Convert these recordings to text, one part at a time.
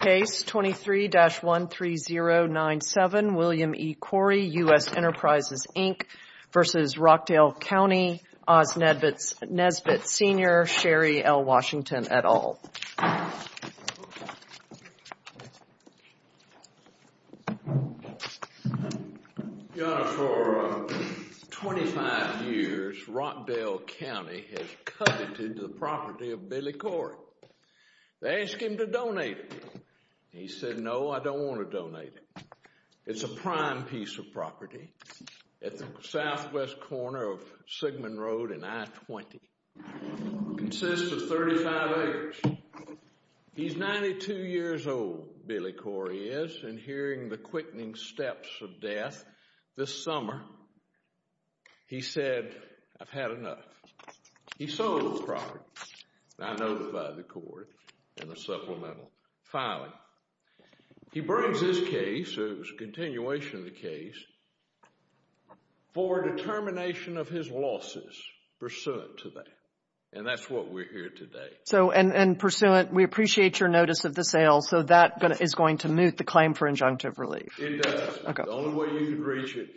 Case 23-13097 William E. Corey, U.S. Enterprises, Inc. v. Rockdale County, Osnedvitz, Nesbitt Sr., Sherry L. Washington, et al. Your Honor, for 25 years, Rockdale County has coveted the property of Billy Corey. They asked him to donate it. He said, No, I don't want to donate it. It's a prime piece of property at the southwest corner of Sigmund Road and I-20. It consists of 35 acres. He's 92 years old, Billy Corey is, and hearing the quickening steps of death this summer, he said, I've had enough. He sold the property. I notified the court in a supplemental filing. He brings his case, a continuation of the case, for determination of his losses pursuant to that. And that's what we're here today. So, and pursuant, we appreciate your notice of the sale, so that is going to moot the claim for injunctive relief. It does. The only way you could reach it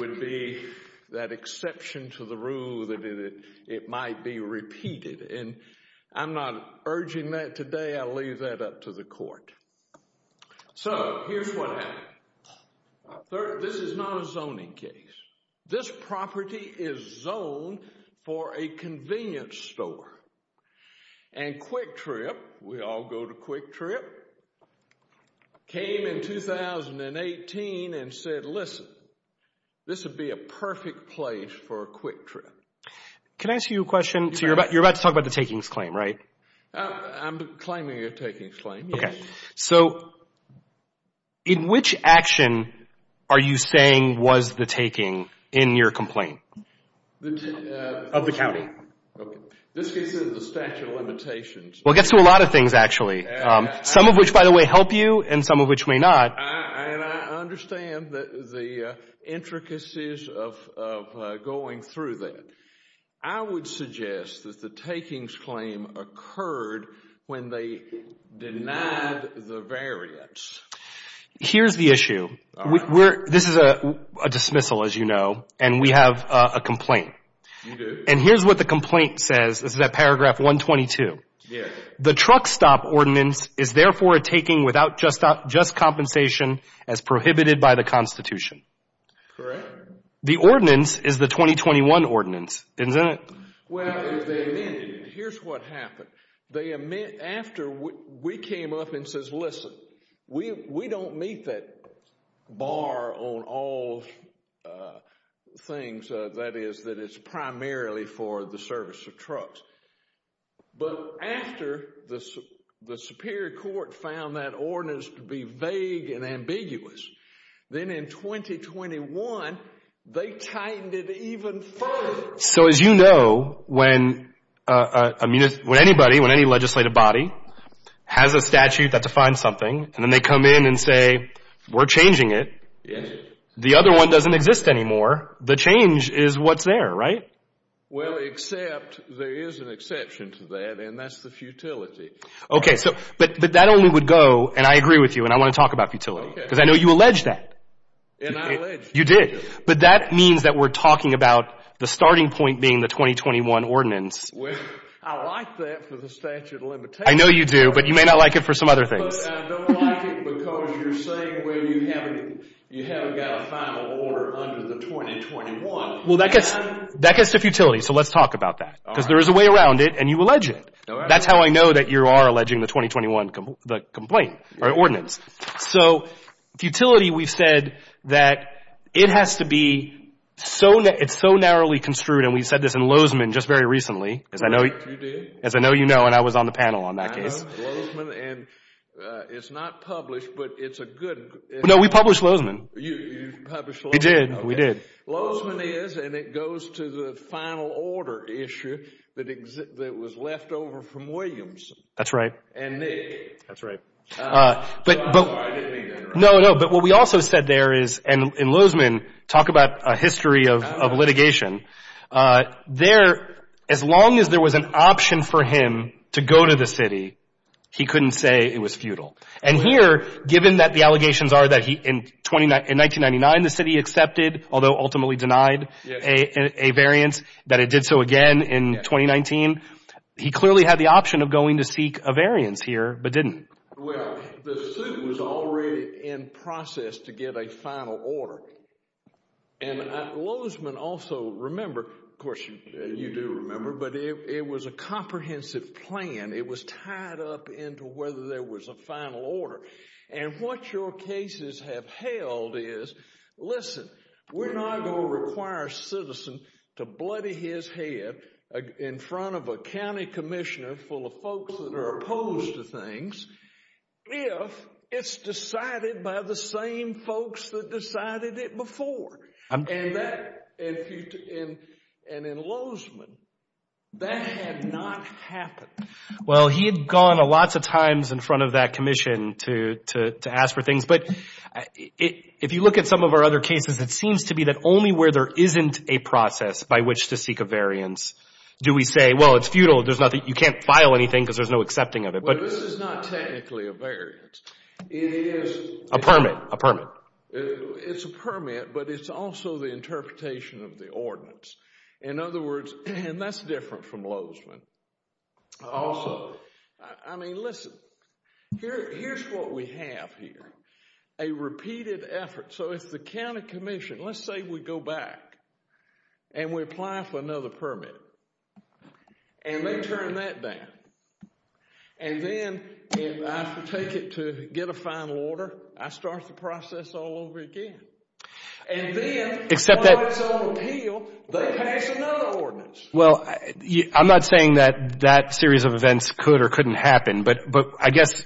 would be that exception to the rule that it might be repeated. And I'm not urging that today. I'll leave that up to the court. So, here's what happened. This is not a zoning case. This property is zoned for a convenience store. And Quick Trip, we all go to Quick Trip, came in 2018 and said, Listen, this would be a perfect place for a quick trip. Can I ask you a question? So, you're about to talk about the takings claim, right? I'm claiming a takings claim, yes. Okay. So, in which action are you saying was the taking in your complaint of the county? This gets into the statute of limitations. Well, it gets to a lot of things, actually, some of which, by the way, help you and some of which may not. And I understand the intricacies of going through that. I would suggest that the takings claim occurred when they denied the variance. Here's the issue. This is a dismissal, as you know, and we have a complaint. You do? And here's what the complaint says. This is at paragraph 122. Yes. The truck stop ordinance is therefore a taking without just compensation as prohibited by the Constitution. Correct. The ordinance is the 2021 ordinance, isn't it? Well, here's what happened. After we came up and says, listen, we don't meet that bar on all things, that is, that it's primarily for the service of trucks. But after the Superior Court found that ordinance to be vague and ambiguous, then in 2021, they tightened it even further. So as you know, when anybody, when any legislative body has a statute that defines something, and then they come in and say, we're changing it. Yes. The other one doesn't exist anymore. The change is what's there, right? Well, except there is an exception to that, and that's the futility. Okay. So but that only would go, and I agree with you, and I want to talk about futility. Okay. Because I know you allege that. And I allege futility. You did, but that means that we're talking about the starting point being the 2021 ordinance. Well, I like that for the statute of limitations. I know you do, but you may not like it for some other things. I don't like it because you're saying, well, you haven't got a final order under the 2021. Well, that gets to futility, so let's talk about that because there is a way around it, and you allege it. That's how I know that you are alleging the 2021 complaint or ordinance. So futility, we've said that it has to be so narrowly construed, and we've said this in Lozeman just very recently. Correct. You did. As I know you know, and I was on the panel on that case. I know Lozeman, and it's not published, but it's a good— No, we published Lozeman. You published Lozeman. We did. We did. Lozeman is, and it goes to the final order issue that was left over from Williamson. That's right. And Nick. That's right. No, no, but what we also said there is, and Lozeman, talk about a history of litigation. There, as long as there was an option for him to go to the city, he couldn't say it was futile. And here, given that the allegations are that in 1999 the city accepted, although ultimately denied, a variance, that it did so again in 2019, he clearly had the option of going to seek a variance here, but didn't. Well, the suit was already in process to get a final order. And Lozeman also remembered, of course you do remember, but it was a comprehensive plan. It was tied up into whether there was a final order. And what your cases have held is, listen, we're not going to require a citizen to bloody his head in front of a county commissioner full of folks that are opposed to things if it's decided by the same folks that decided it before. And in Lozeman, that had not happened. Well, he had gone lots of times in front of that commission to ask for things. But if you look at some of our other cases, it seems to be that only where there isn't a process by which to seek a variance do we say, well, it's futile. You can't file anything because there's no accepting of it. But this is not technically a variance. It is a permit. It's a permit, but it's also the interpretation of the ordinance. In other words, and that's different from Lozeman. Also, I mean, listen, here's what we have here, a repeated effort. So if the county commission, let's say we go back and we apply for another permit, and they turn that down. And then if I have to take it to get a final order, I start the process all over again. And then, upon its own appeal, they pass another ordinance. Well, I'm not saying that that series of events could or couldn't happen. But I guess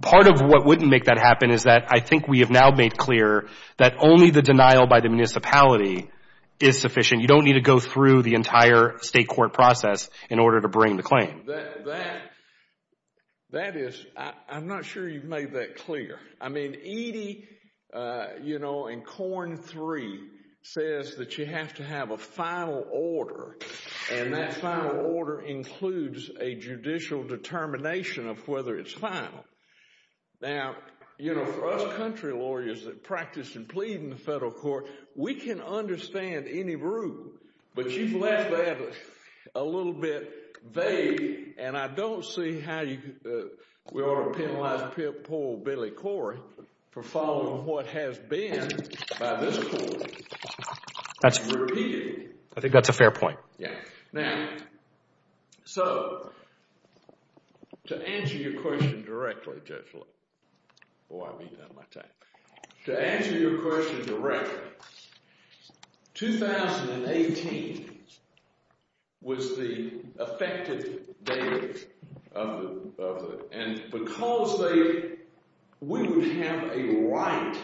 part of what wouldn't make that happen is that I think we have now made clear that only the denial by the municipality is sufficient. You don't need to go through the entire state court process in order to bring the claim. That is, I'm not sure you've made that clear. I mean, Edie, you know, in Corn 3, says that you have to have a final order. And that final order includes a judicial determination of whether it's final. Now, you know, for us country lawyers that practice and plead in the federal court, we can understand any rule. But you've left that a little bit vague. And I don't see how we ought to penalize poor Billy Corey for following what has been by this court. That's repeated. I think that's a fair point. Yeah. Now, so to answer your question directly, Judge Lipp, oh, I've eaten out of my time. To answer your question directly, 2018 was the effective date of the—and because they—we would have a right.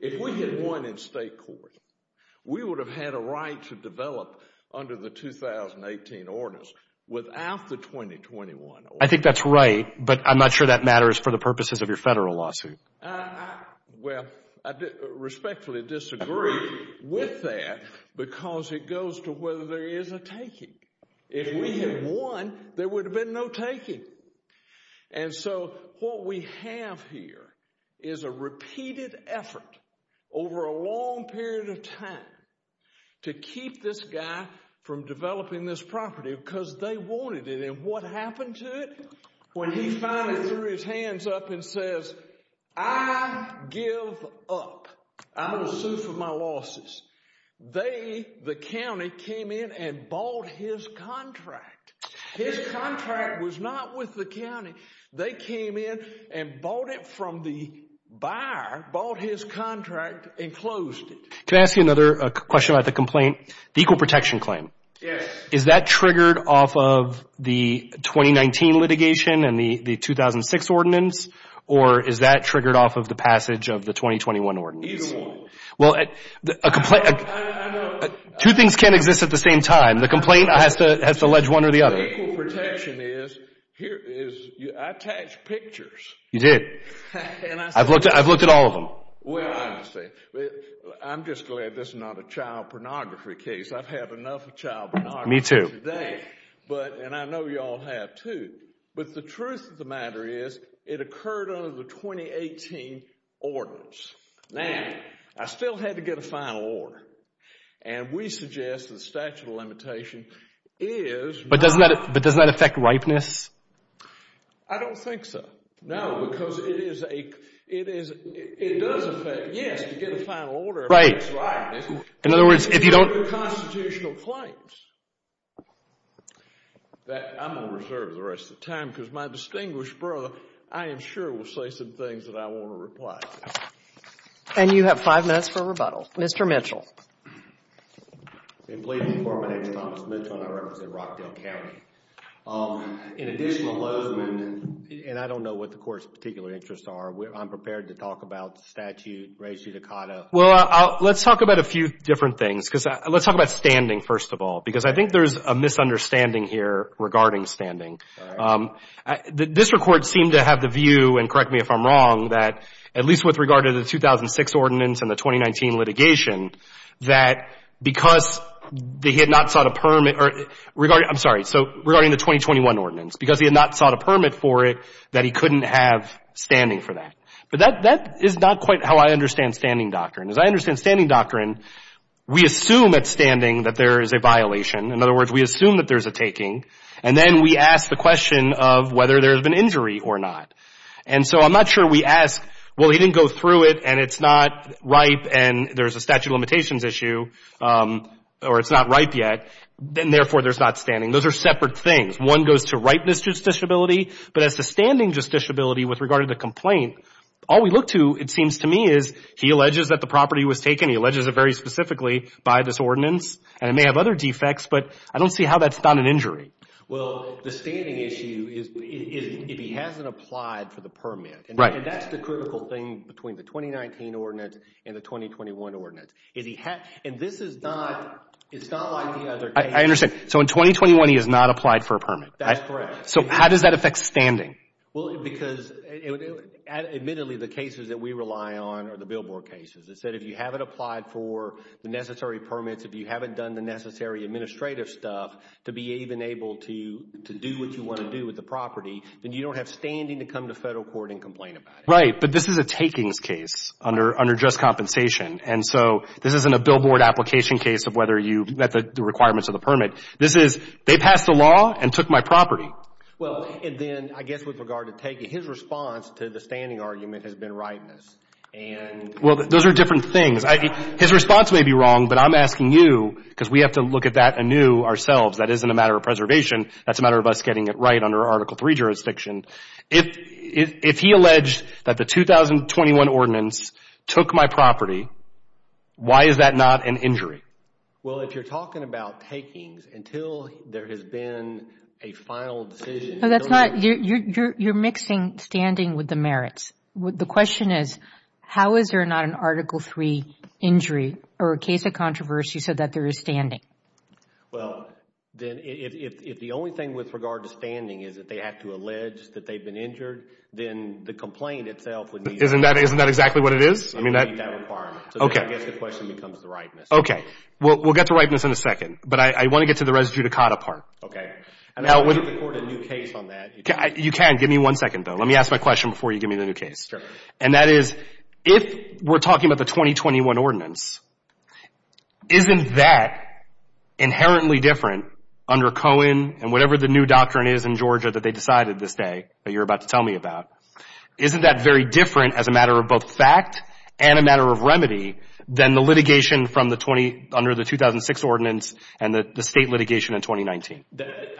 If we had won in state court, we would have had a right to develop under the 2018 ordinance without the 2021 ordinance. I think that's right, but I'm not sure that matters for the purposes of your federal lawsuit. Well, I respectfully disagree with that because it goes to whether there is a taking. If we had won, there would have been no taking. And so what we have here is a repeated effort over a long period of time to keep this guy from developing this property because they wanted it. And what happened to it? When he finally threw his hands up and says, I give up. I will sue for my losses. They, the county, came in and bought his contract. His contract was not with the county. They came in and bought it from the buyer, bought his contract, and closed it. Can I ask you another question about the complaint? The equal protection claim. Yes. Is that triggered off of the 2019 litigation and the 2006 ordinance? Or is that triggered off of the passage of the 2021 ordinance? Either one. Well, a complaint— I know. Two things can't exist at the same time. The complaint has to allege one or the other. The equal protection is, I attached pictures. You did. I've looked at all of them. Well, I understand. I'm just glad this is not a child pornography case. I've had enough of child pornography today. And I know you all have too. But the truth of the matter is, it occurred under the 2018 ordinance. Now, I still had to get a final order. And we suggest the statute of limitation is— But doesn't that affect ripeness? I don't think so. No, because it is a—it does affect—yes, to get a final order affects ripeness. In other words, if you don't— If you don't have constitutional claims, I'm going to reserve the rest of the time because my distinguished brother, I am sure, will say some things that I want to reply to. And you have five minutes for rebuttal. Mr. Mitchell. And please inform my name is Thomas Mitchell, and I represent Rockdale County. In addition to Lozeman, and I don't know what the court's particular interests are, I'm prepared to talk about statute, res judicata. Well, let's talk about a few different things. Because let's talk about standing, first of all, because I think there's a misunderstanding here regarding standing. This court seemed to have the view, and correct me if I'm wrong, that at least with regard to the 2006 ordinance and the 2019 litigation, that because they had not sought a permit—regarding—I'm sorry. So regarding the 2021 ordinance, because he had not sought a permit for it, that he couldn't have standing for that. But that is not quite how I understand standing doctrine. As I understand standing doctrine, we assume at standing that there is a violation. In other words, we assume that there's a taking, and then we ask the question of whether there has been injury or not. And so I'm not sure we ask, well, he didn't go through it, and it's not ripe, and there's a statute of limitations issue, or it's not ripe yet, and therefore there's not standing. Those are separate things. One goes to ripeness justiciability, but as to standing justiciability with regard to the complaint, all we look to, it seems to me, is he alleges that the property was taken. He alleges it very specifically by this ordinance, and it may have other defects, but I don't see how that's not an injury. Well, the standing issue is if he hasn't applied for the permit, and that's the critical thing between the 2019 ordinance and the 2021 ordinance. And this is not like the other cases. I understand. So in 2021, he has not applied for a permit. That's correct. So how does that affect standing? Well, because admittedly the cases that we rely on are the billboard cases. It said if you haven't applied for the necessary permits, if you haven't done the necessary administrative stuff to be even able to do what you want to do with the property, then you don't have standing to come to federal court and complain about it. Right, but this is a takings case under just compensation, and so this isn't a billboard application case of whether you met the requirements of the permit. This is they passed a law and took my property. Well, and then I guess with regard to taking, his response to the standing argument has been ripeness. Well, those are different things. His response may be wrong, but I'm asking you because we have to look at that anew ourselves. That isn't a matter of preservation. That's a matter of us getting it right under Article III jurisdiction. If he alleged that the 2021 ordinance took my property, why is that not an injury? Well, if you're talking about takings until there has been a final decision. No, that's not. You're mixing standing with the merits. The question is how is there not an Article III injury or a case of controversy so that there is standing? Well, then if the only thing with regard to standing is that they have to allege that they've been injured, then the complaint itself would need that. Isn't that exactly what it is? It would need that requirement. Okay. So then I guess the question becomes the ripeness. Okay. We'll get to ripeness in a second, but I want to get to the res judicata part. Okay. And I can get the court a new case on that. You can. Give me one second, though. Let me ask my question before you give me the new case. And that is if we're talking about the 2021 ordinance, isn't that inherently different under Cohen and whatever the new doctrine is in Georgia that they decided this day that you're about to tell me about? Isn't that very different as a matter of both fact and a matter of remedy than the litigation under the 2006 ordinance and the state litigation in 2019?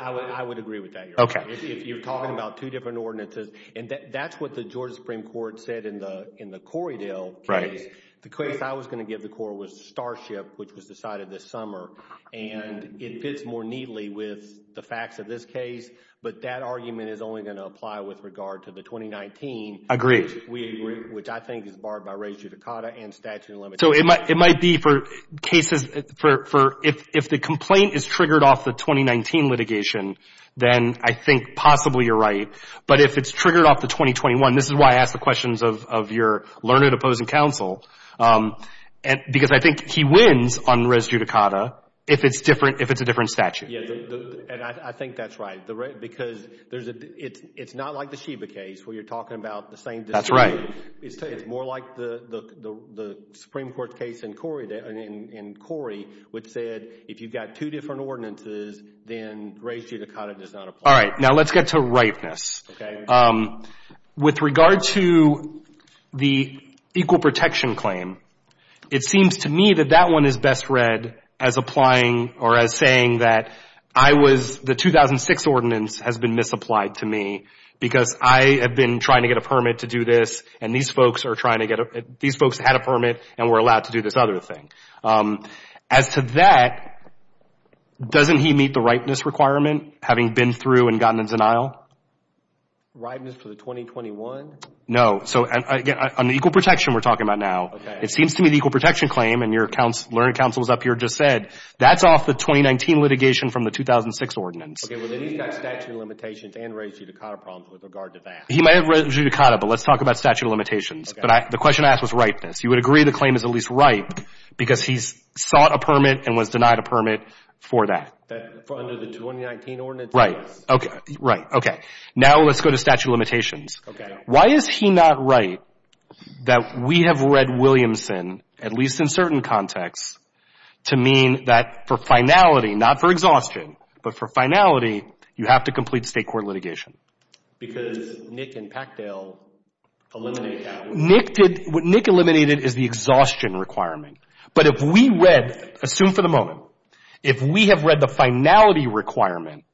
I would agree with that, Your Honor. Okay. If you're talking about two different ordinances, and that's what the Georgia Supreme Court said in the Corriedale case. The case I was going to give the court was Starship, which was decided this summer. And it fits more neatly with the facts of this case, but that argument is only going to apply with regard to the 2019. Agreed. Which I think is barred by res judicata and statute of limitations. So it might be for cases, if the complaint is triggered off the 2019 litigation, then I think possibly you're right. But if it's triggered off the 2021, this is why I ask the questions of your learned opposing counsel, because I think he wins on res judicata if it's a different statute. Yeah, and I think that's right. Because it's not like the Sheba case where you're talking about the same decision. That's right. It's more like the Supreme Court case in Corriedale, in Corrie, which said if you've got two different ordinances, then res judicata does not apply. All right. Now let's get to ripeness. Okay. With regard to the equal protection claim, it seems to me that that one is best read as applying or as saying that I was, the 2006 ordinance has been misapplied to me because I have been trying to get a permit to do this, and these folks are trying to get, these folks had a permit and were allowed to do this other thing. As to that, doesn't he meet the ripeness requirement, having been through and gotten in denial? Ripeness for the 2021? No. So on the equal protection we're talking about now, it seems to me the equal protection claim, and your learned counsels up here just said, that's off the 2019 litigation from the 2006 ordinance. Okay. Well, then he's got statute of limitations and res judicata problems with regard to that. He may have res judicata, but let's talk about statute of limitations. The question I asked was ripeness. You would agree the claim is at least ripe because he's sought a permit and was denied a permit for that. Under the 2019 ordinance? Right. Right. Okay. Now let's go to statute of limitations. Okay. Why is he not right that we have read Williamson, at least in certain contexts, to mean that for finality, not for exhaustion, but for finality, you have to complete state court litigation? Because Nick and Packdale eliminated that. Nick eliminated is the exhaustion requirement, but if we read, assume for the moment, if we have read the finality requirement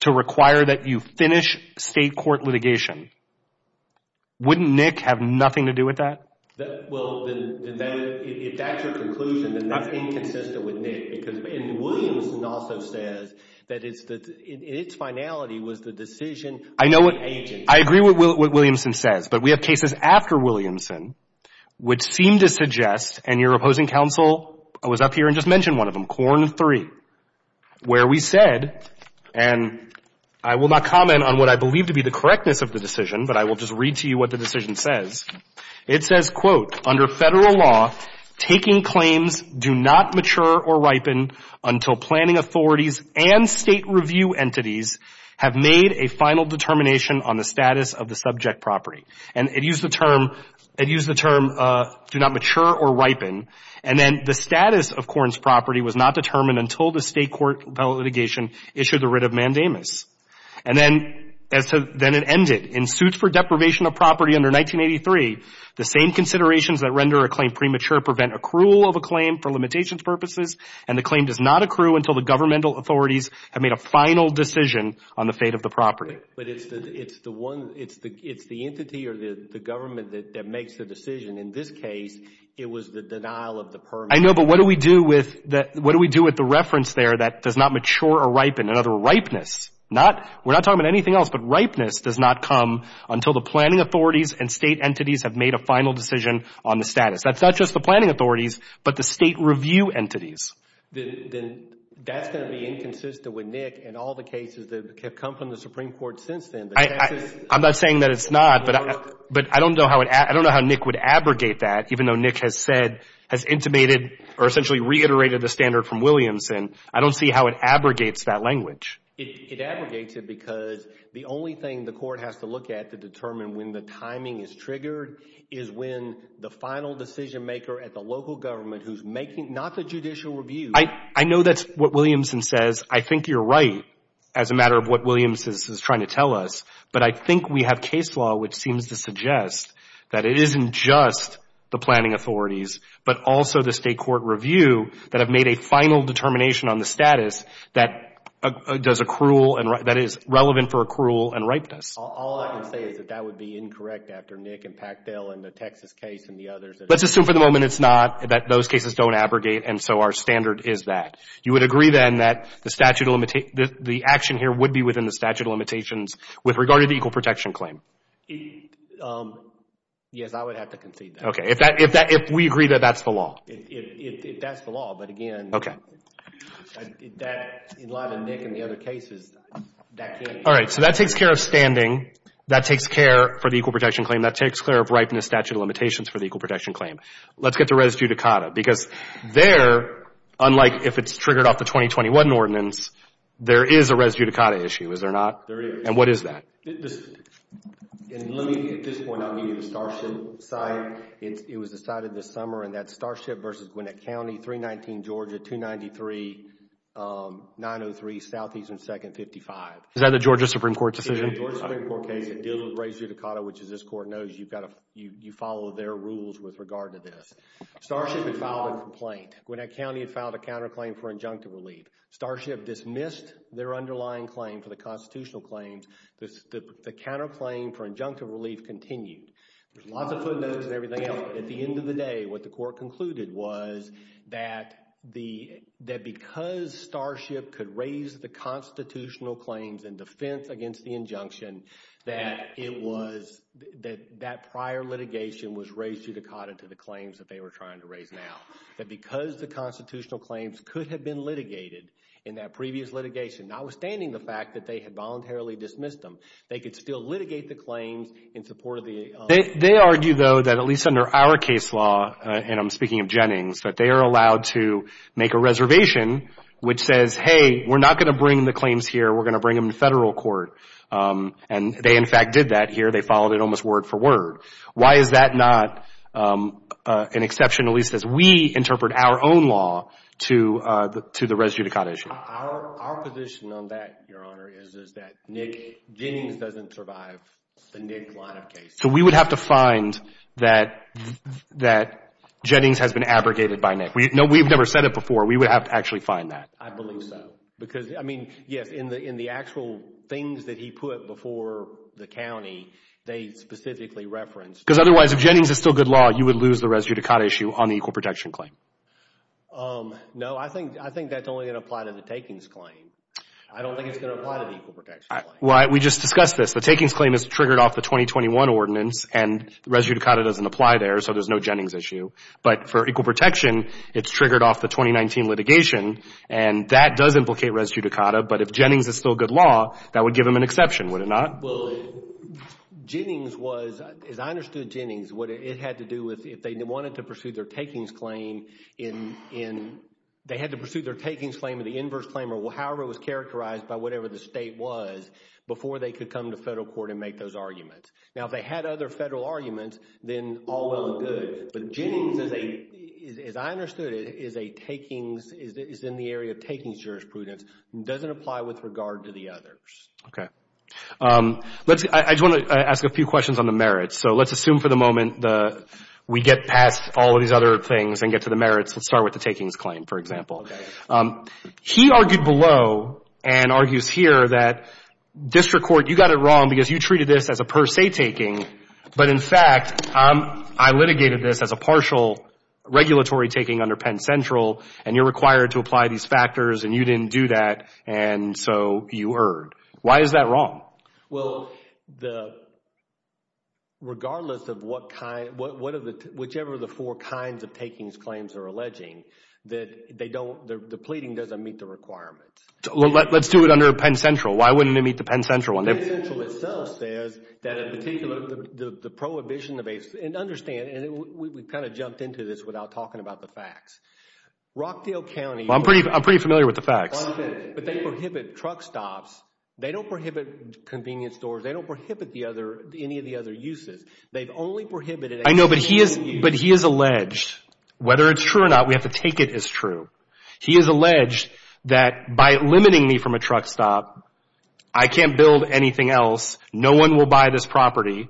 to require that you finish state court litigation, wouldn't Nick have nothing to do with that? Well, if that's your conclusion, then that's inconsistent with Nick, because Williamson also says that its finality was the decision of the agent. I agree with what Williamson says, but we have cases after Williamson which seem to suggest, and your opposing counsel was up here and just mentioned one of them, Quorum 3, where we said, and I will not comment on what I believe to be the correctness of the decision, but I will just read to you what the decision says. It says, quote, under Federal law, taking claims do not mature or ripen until planning authorities and State review entities have made a final determination on the status of the subject property. And it used the term, it used the term, do not mature or ripen, and then the status of Korn's property was not determined until the state court litigation issued the writ of mandamus. And then it ended. In suits for deprivation of property under 1983, the same considerations that render a claim premature prevent accrual of a claim for limitations purposes, and the claim does not accrue until the governmental authorities have made a final decision on the fate of the property. But it's the one, it's the entity or the government that makes the decision. In this case, it was the denial of the permit. I know, but what do we do with the reference there that does not mature or ripen? In other words, ripeness. We're not talking about anything else, but ripeness does not come until the planning authorities and State entities have made a final decision on the status. That's not just the planning authorities, but the State review entities. Then that's going to be inconsistent with Nick and all the cases that have come from the Supreme Court since then. I'm not saying that it's not, but I don't know how Nick would abrogate that, even though Nick has said, has intimated or essentially reiterated the standard from Williamson. I don't see how it abrogates that language. It abrogates it because the only thing the court has to look at to determine when the timing is triggered is when the final decision maker at the local government who's making, not the judicial review. I know that's what Williamson says. I think you're right as a matter of what Williamson is trying to tell us, but I think we have case law which seems to suggest that it isn't just the planning authorities, but also the State court review that have made a final determination on the status that does accrual, that is relevant for accrual and ripeness. All I can say is that that would be incorrect after Nick and Packdale and the Texas case and the others. Let's assume for the moment it's not, that those cases don't abrogate, and so our standard is that. You would agree then that the action here would be within the statute of limitations with regard to the equal protection claim? Yes, I would have to concede that. Okay, if we agree that that's the law. If that's the law, but again, in light of Nick and the other cases, that can't be. All right, so that takes care of standing. That takes care for the equal protection claim. That takes care of ripeness statute of limitations for the equal protection claim. Let's get to res judicata, because there, unlike if it's triggered off the 2021 ordinance, there is a res judicata issue, is there not? There is. And what is that? At this point, I'll give you the Starship side. It was decided this summer, and that's Starship versus Gwinnett County, 319 Georgia, 293 903 Southeastern 2nd 55. Is that a Georgia Supreme Court decision? It is a Georgia Supreme Court case. It deals with res judicata, which as this Court knows, you follow their rules with regard to this. Starship had filed a complaint. Gwinnett County had filed a counterclaim for injunctive relief. Starship dismissed their underlying claim for the constitutional claims. The counterclaim for injunctive relief continued. There's lots of footnotes and everything else. At the end of the day, what the Court concluded was that because Starship could raise the constitutional claims in defense against the injunction, that prior litigation was res judicata to the claims that they were trying to raise now. That because the constitutional claims could have been litigated in that previous litigation, notwithstanding the fact that they had voluntarily dismissed them, they could still litigate the claims in support of the— They argue, though, that at least under our case law, and I'm speaking of Jennings, that they are allowed to make a reservation, which says, hey, we're not going to bring the claims here. We're going to bring them to federal court. And they, in fact, did that here. They followed it almost word for word. Why is that not an exception, at least as we interpret our own law to the res judicata issue? Our position on that, Your Honor, is that Nick Jennings doesn't survive the Nick line of cases. So we would have to find that Jennings has been abrogated by Nick. No, we've never said it before. We would have to actually find that. I believe so because, I mean, yes, in the actual things that he put before the county, they specifically referenced— Because otherwise, if Jennings is still good law, you would lose the res judicata issue on the equal protection claim. No, I think that's only going to apply to the takings claim. I don't think it's going to apply to the equal protection claim. We just discussed this. The takings claim is triggered off the 2021 ordinance, and res judicata doesn't apply there, so there's no Jennings issue. But for equal protection, it's triggered off the 2019 litigation, and that does implicate res judicata. But if Jennings is still good law, that would give him an exception, would it not? Well, Jennings was—as I understood Jennings, what it had to do with if they wanted to pursue their takings claim in— they had to pursue their takings claim in the inverse claim or however it was characterized by whatever the state was before they could come to federal court and make those arguments. Now, if they had other federal arguments, then all well and good. But Jennings, as I understood it, is a takings—is in the area of takings jurisprudence and doesn't apply with regard to the others. Okay. I just want to ask a few questions on the merits. So let's assume for the moment we get past all of these other things and get to the merits. Let's start with the takings claim, for example. Okay. He argued below and argues here that district court, you got it wrong because you treated this as a per se taking, but in fact I litigated this as a partial regulatory taking under Penn Central, and you're required to apply these factors, and you didn't do that, and so you erred. Why is that wrong? Well, the—regardless of what kind—whichever the four kinds of takings claims are alleging, that they don't—the pleading doesn't meet the requirements. Let's do it under Penn Central. Why wouldn't it meet the Penn Central one? Penn Central itself says that in particular the prohibition of a—and understand, and we kind of jumped into this without talking about the facts. Rockdale County— I'm pretty familiar with the facts. But they prohibit truck stops. They don't prohibit convenience stores. They don't prohibit the other—any of the other uses. They've only prohibited— I know, but he is—but he has alleged, whether it's true or not, we have to take it as true. He has alleged that by limiting me from a truck stop, I can't build anything else. No one will buy this property,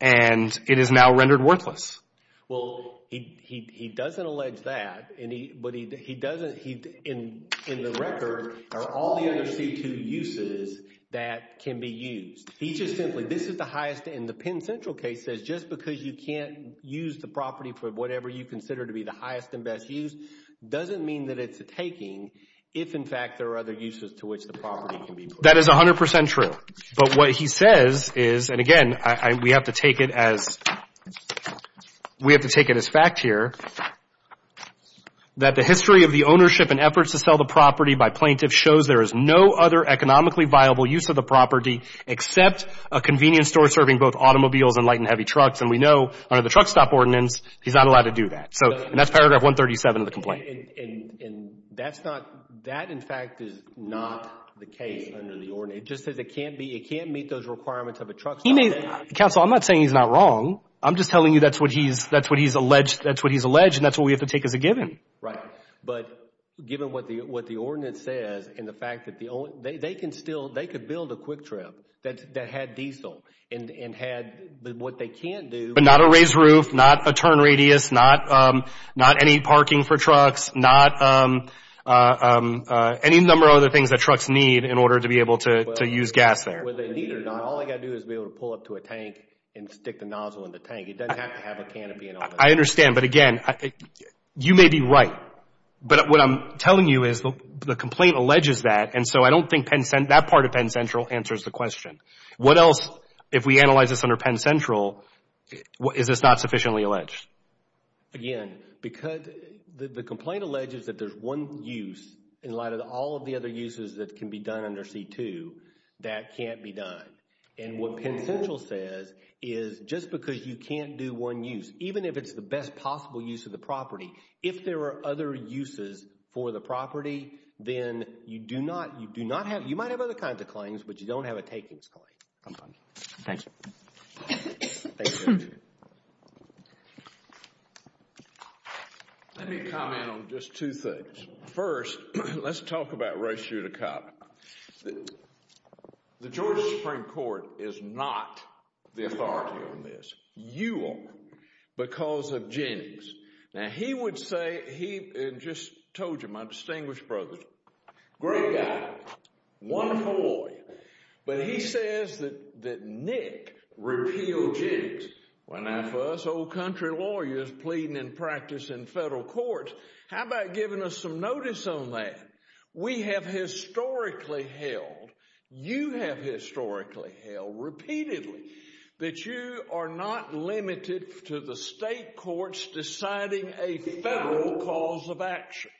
and it is now rendered worthless. Well, he doesn't allege that, but he doesn't—in the record are all the under C-2 uses that can be used. He just simply—this is the highest, and the Penn Central case says just because you can't use the property for whatever you consider to be the highest and best use doesn't mean that it's a taking if, in fact, there are other uses to which the property can be put. That is 100 percent true. But what he says is—and again, I—we have to take it as—we have to take it as fact here that the history of the ownership and efforts to sell the property by plaintiff shows there is no other economically viable use of the property except a convenience store serving both automobiles and light and heavy trucks. And we know under the truck stop ordinance, he's not allowed to do that. So—and that's paragraph 137 of the complaint. And that's not—that, in fact, is not the case under the ordinance. It just says it can't be—it can't meet those requirements of a truck stop. He may—Counsel, I'm not saying he's not wrong. I'm just telling you that's what he's—that's what he's alleged—that's what he's alleged, and that's what we have to take as a given. Right. But given what the ordinance says and the fact that the—they can still—they could build a quick trip that had diesel and had what they can't do— But not a raised roof, not a turn radius, not any parking for trucks, not any number of other things that trucks need in order to be able to use gas there. Whether they need it or not, all they got to do is be able to pull up to a tank and stick the nozzle in the tank. It doesn't have to have a canopy and all that. I understand. But again, you may be right, but what I'm telling you is the complaint alleges that, and so I don't think that part of Penn Central answers the question. What else, if we analyze this under Penn Central, is this not sufficiently alleged? Again, because the complaint alleges that there's one use in light of all of the other uses that can be done under C-2 that can't be done. And what Penn Central says is just because you can't do one use, even if it's the best possible use of the property, if there are other uses for the property, then you do not—you do not have—you might have other kinds of claims, but you don't have a takings claim. I'm fine. Thanks. Let me comment on just two things. First, let's talk about Ray Sciuticata. The Georgia Supreme Court is not the authority on this. You are because of Jennings. Now, he would say—he just told you, my distinguished brother, great guy, wonderful lawyer, but he says that Nick repealed Jennings. Well, now for us old country lawyers pleading in practice in federal courts, how about giving us some notice on that? We have historically held—you have historically held repeatedly that you are not limited to the state courts deciding a federal cause of action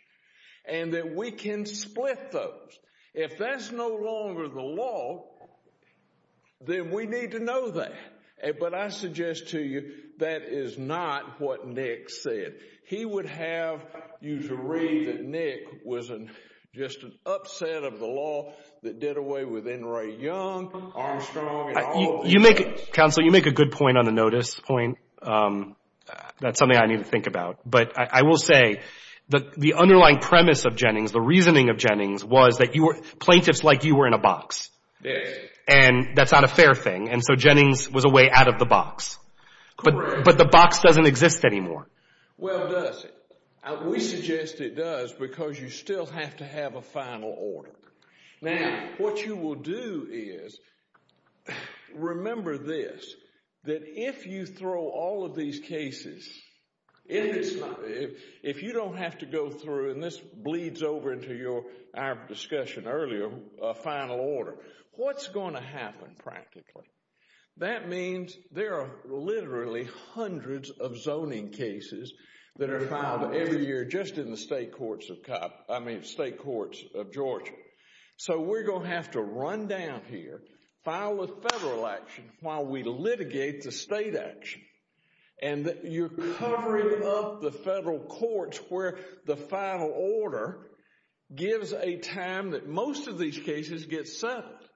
and that we can split those. If that's no longer the law, then we need to know that. But I suggest to you that is not what Nick said. He would have you to read that Nick was just an upset of the law that did away with N. Ray Young, Armstrong, and all of those guys. You make—Counsel, you make a good point on the notice point. That's something I need to think about. But I will say the underlying premise of Jennings, the reasoning of Jennings, was that you were—plaintiffs like you were in a box. Yes. And that's not a fair thing. And so Jennings was a way out of the box. But the box doesn't exist anymore. Well, does it? We suggest it does because you still have to have a final order. Now, what you will do is—remember this, that if you throw all of these cases—if you don't have to go through, and this bleeds over into our discussion earlier, a final order, what's going to happen practically? That means there are literally hundreds of zoning cases that are filed every year just in the state courts of Georgia. So we're going to have to run down here, file a federal action while we litigate the state action. And you're covering up the federal courts where the final order gives a time that most of these cases get settled.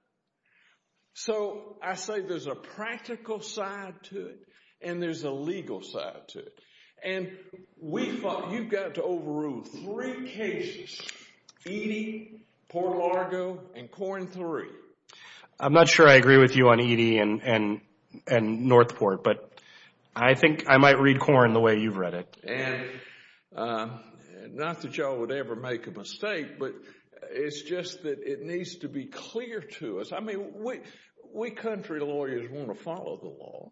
So I say there's a practical side to it and there's a legal side to it. And we thought you've got to overrule three cases, Eadie, Port Largo, and Corn III. I'm not sure I agree with you on Eadie and North Port, but I think I might read Corn the way you've read it. And not that y'all would ever make a mistake, but it's just that it needs to be clear to us. I mean, we country lawyers want to follow the law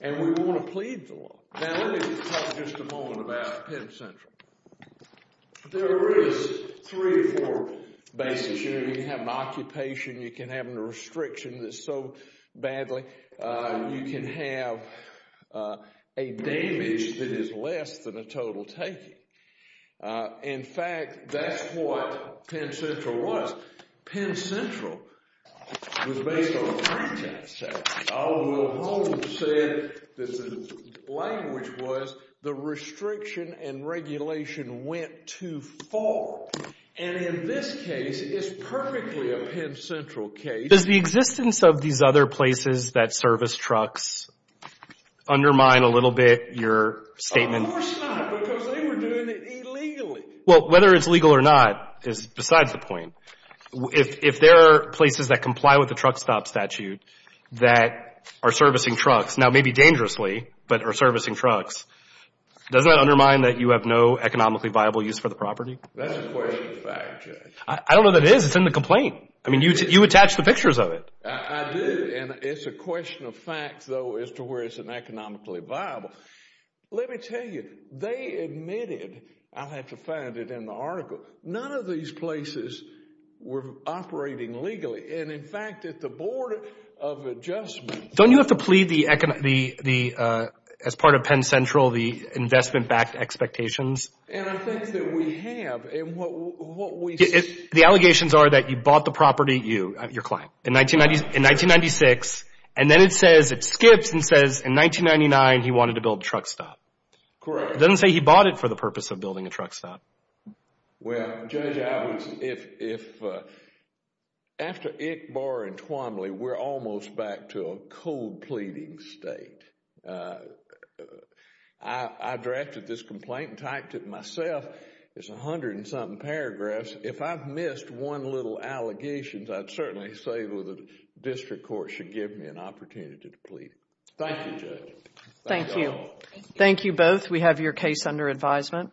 and we want to plead the law. Now, let me talk just a moment about Penn Central. There is three or four basics. You can have an occupation. You can have a restriction that's so badly. You can have a damage that is less than a total taken. In fact, that's what Penn Central was. Penn Central was based on a free tax tax. Donald Wilhelm said that the language was the restriction and regulation went too far. And in this case, it's perfectly a Penn Central case. Does the existence of these other places that service trucks undermine a little bit your statement? Of course not, because they were doing it illegally. Well, whether it's legal or not is besides the point. If there are places that comply with the truck stop statute that are servicing trucks, now maybe dangerously, but are servicing trucks, does that undermine that you have no economically viable use for the property? That's a question of fact, Judge. I don't know that it is. It's in the complaint. I mean, you attach the pictures of it. I do, and it's a question of fact, though, as to where it's economically viable. Let me tell you, they admitted, I'll have to find it in the article, none of these places were operating legally. And, in fact, at the Board of Adjustment— Don't you have to plead the, as part of Penn Central, the investment-backed expectations? And I think that we have, and what we— The allegations are that you bought the property, you, your client, in 1996, and then it says, it skips and says, in 1999 he wanted to build a truck stop. Correct. It doesn't say he bought it for the purpose of building a truck stop. Well, Judge, I would, if, after Ickbar and Twombly, we're almost back to a cold pleading state. I drafted this complaint and typed it myself. It's a hundred and something paragraphs. If I've missed one little allegation, I'd certainly say the district court should give me an opportunity to plead. Thank you, Judge. Thank you. Thank you both. We have your case under advisement.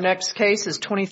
Thank you.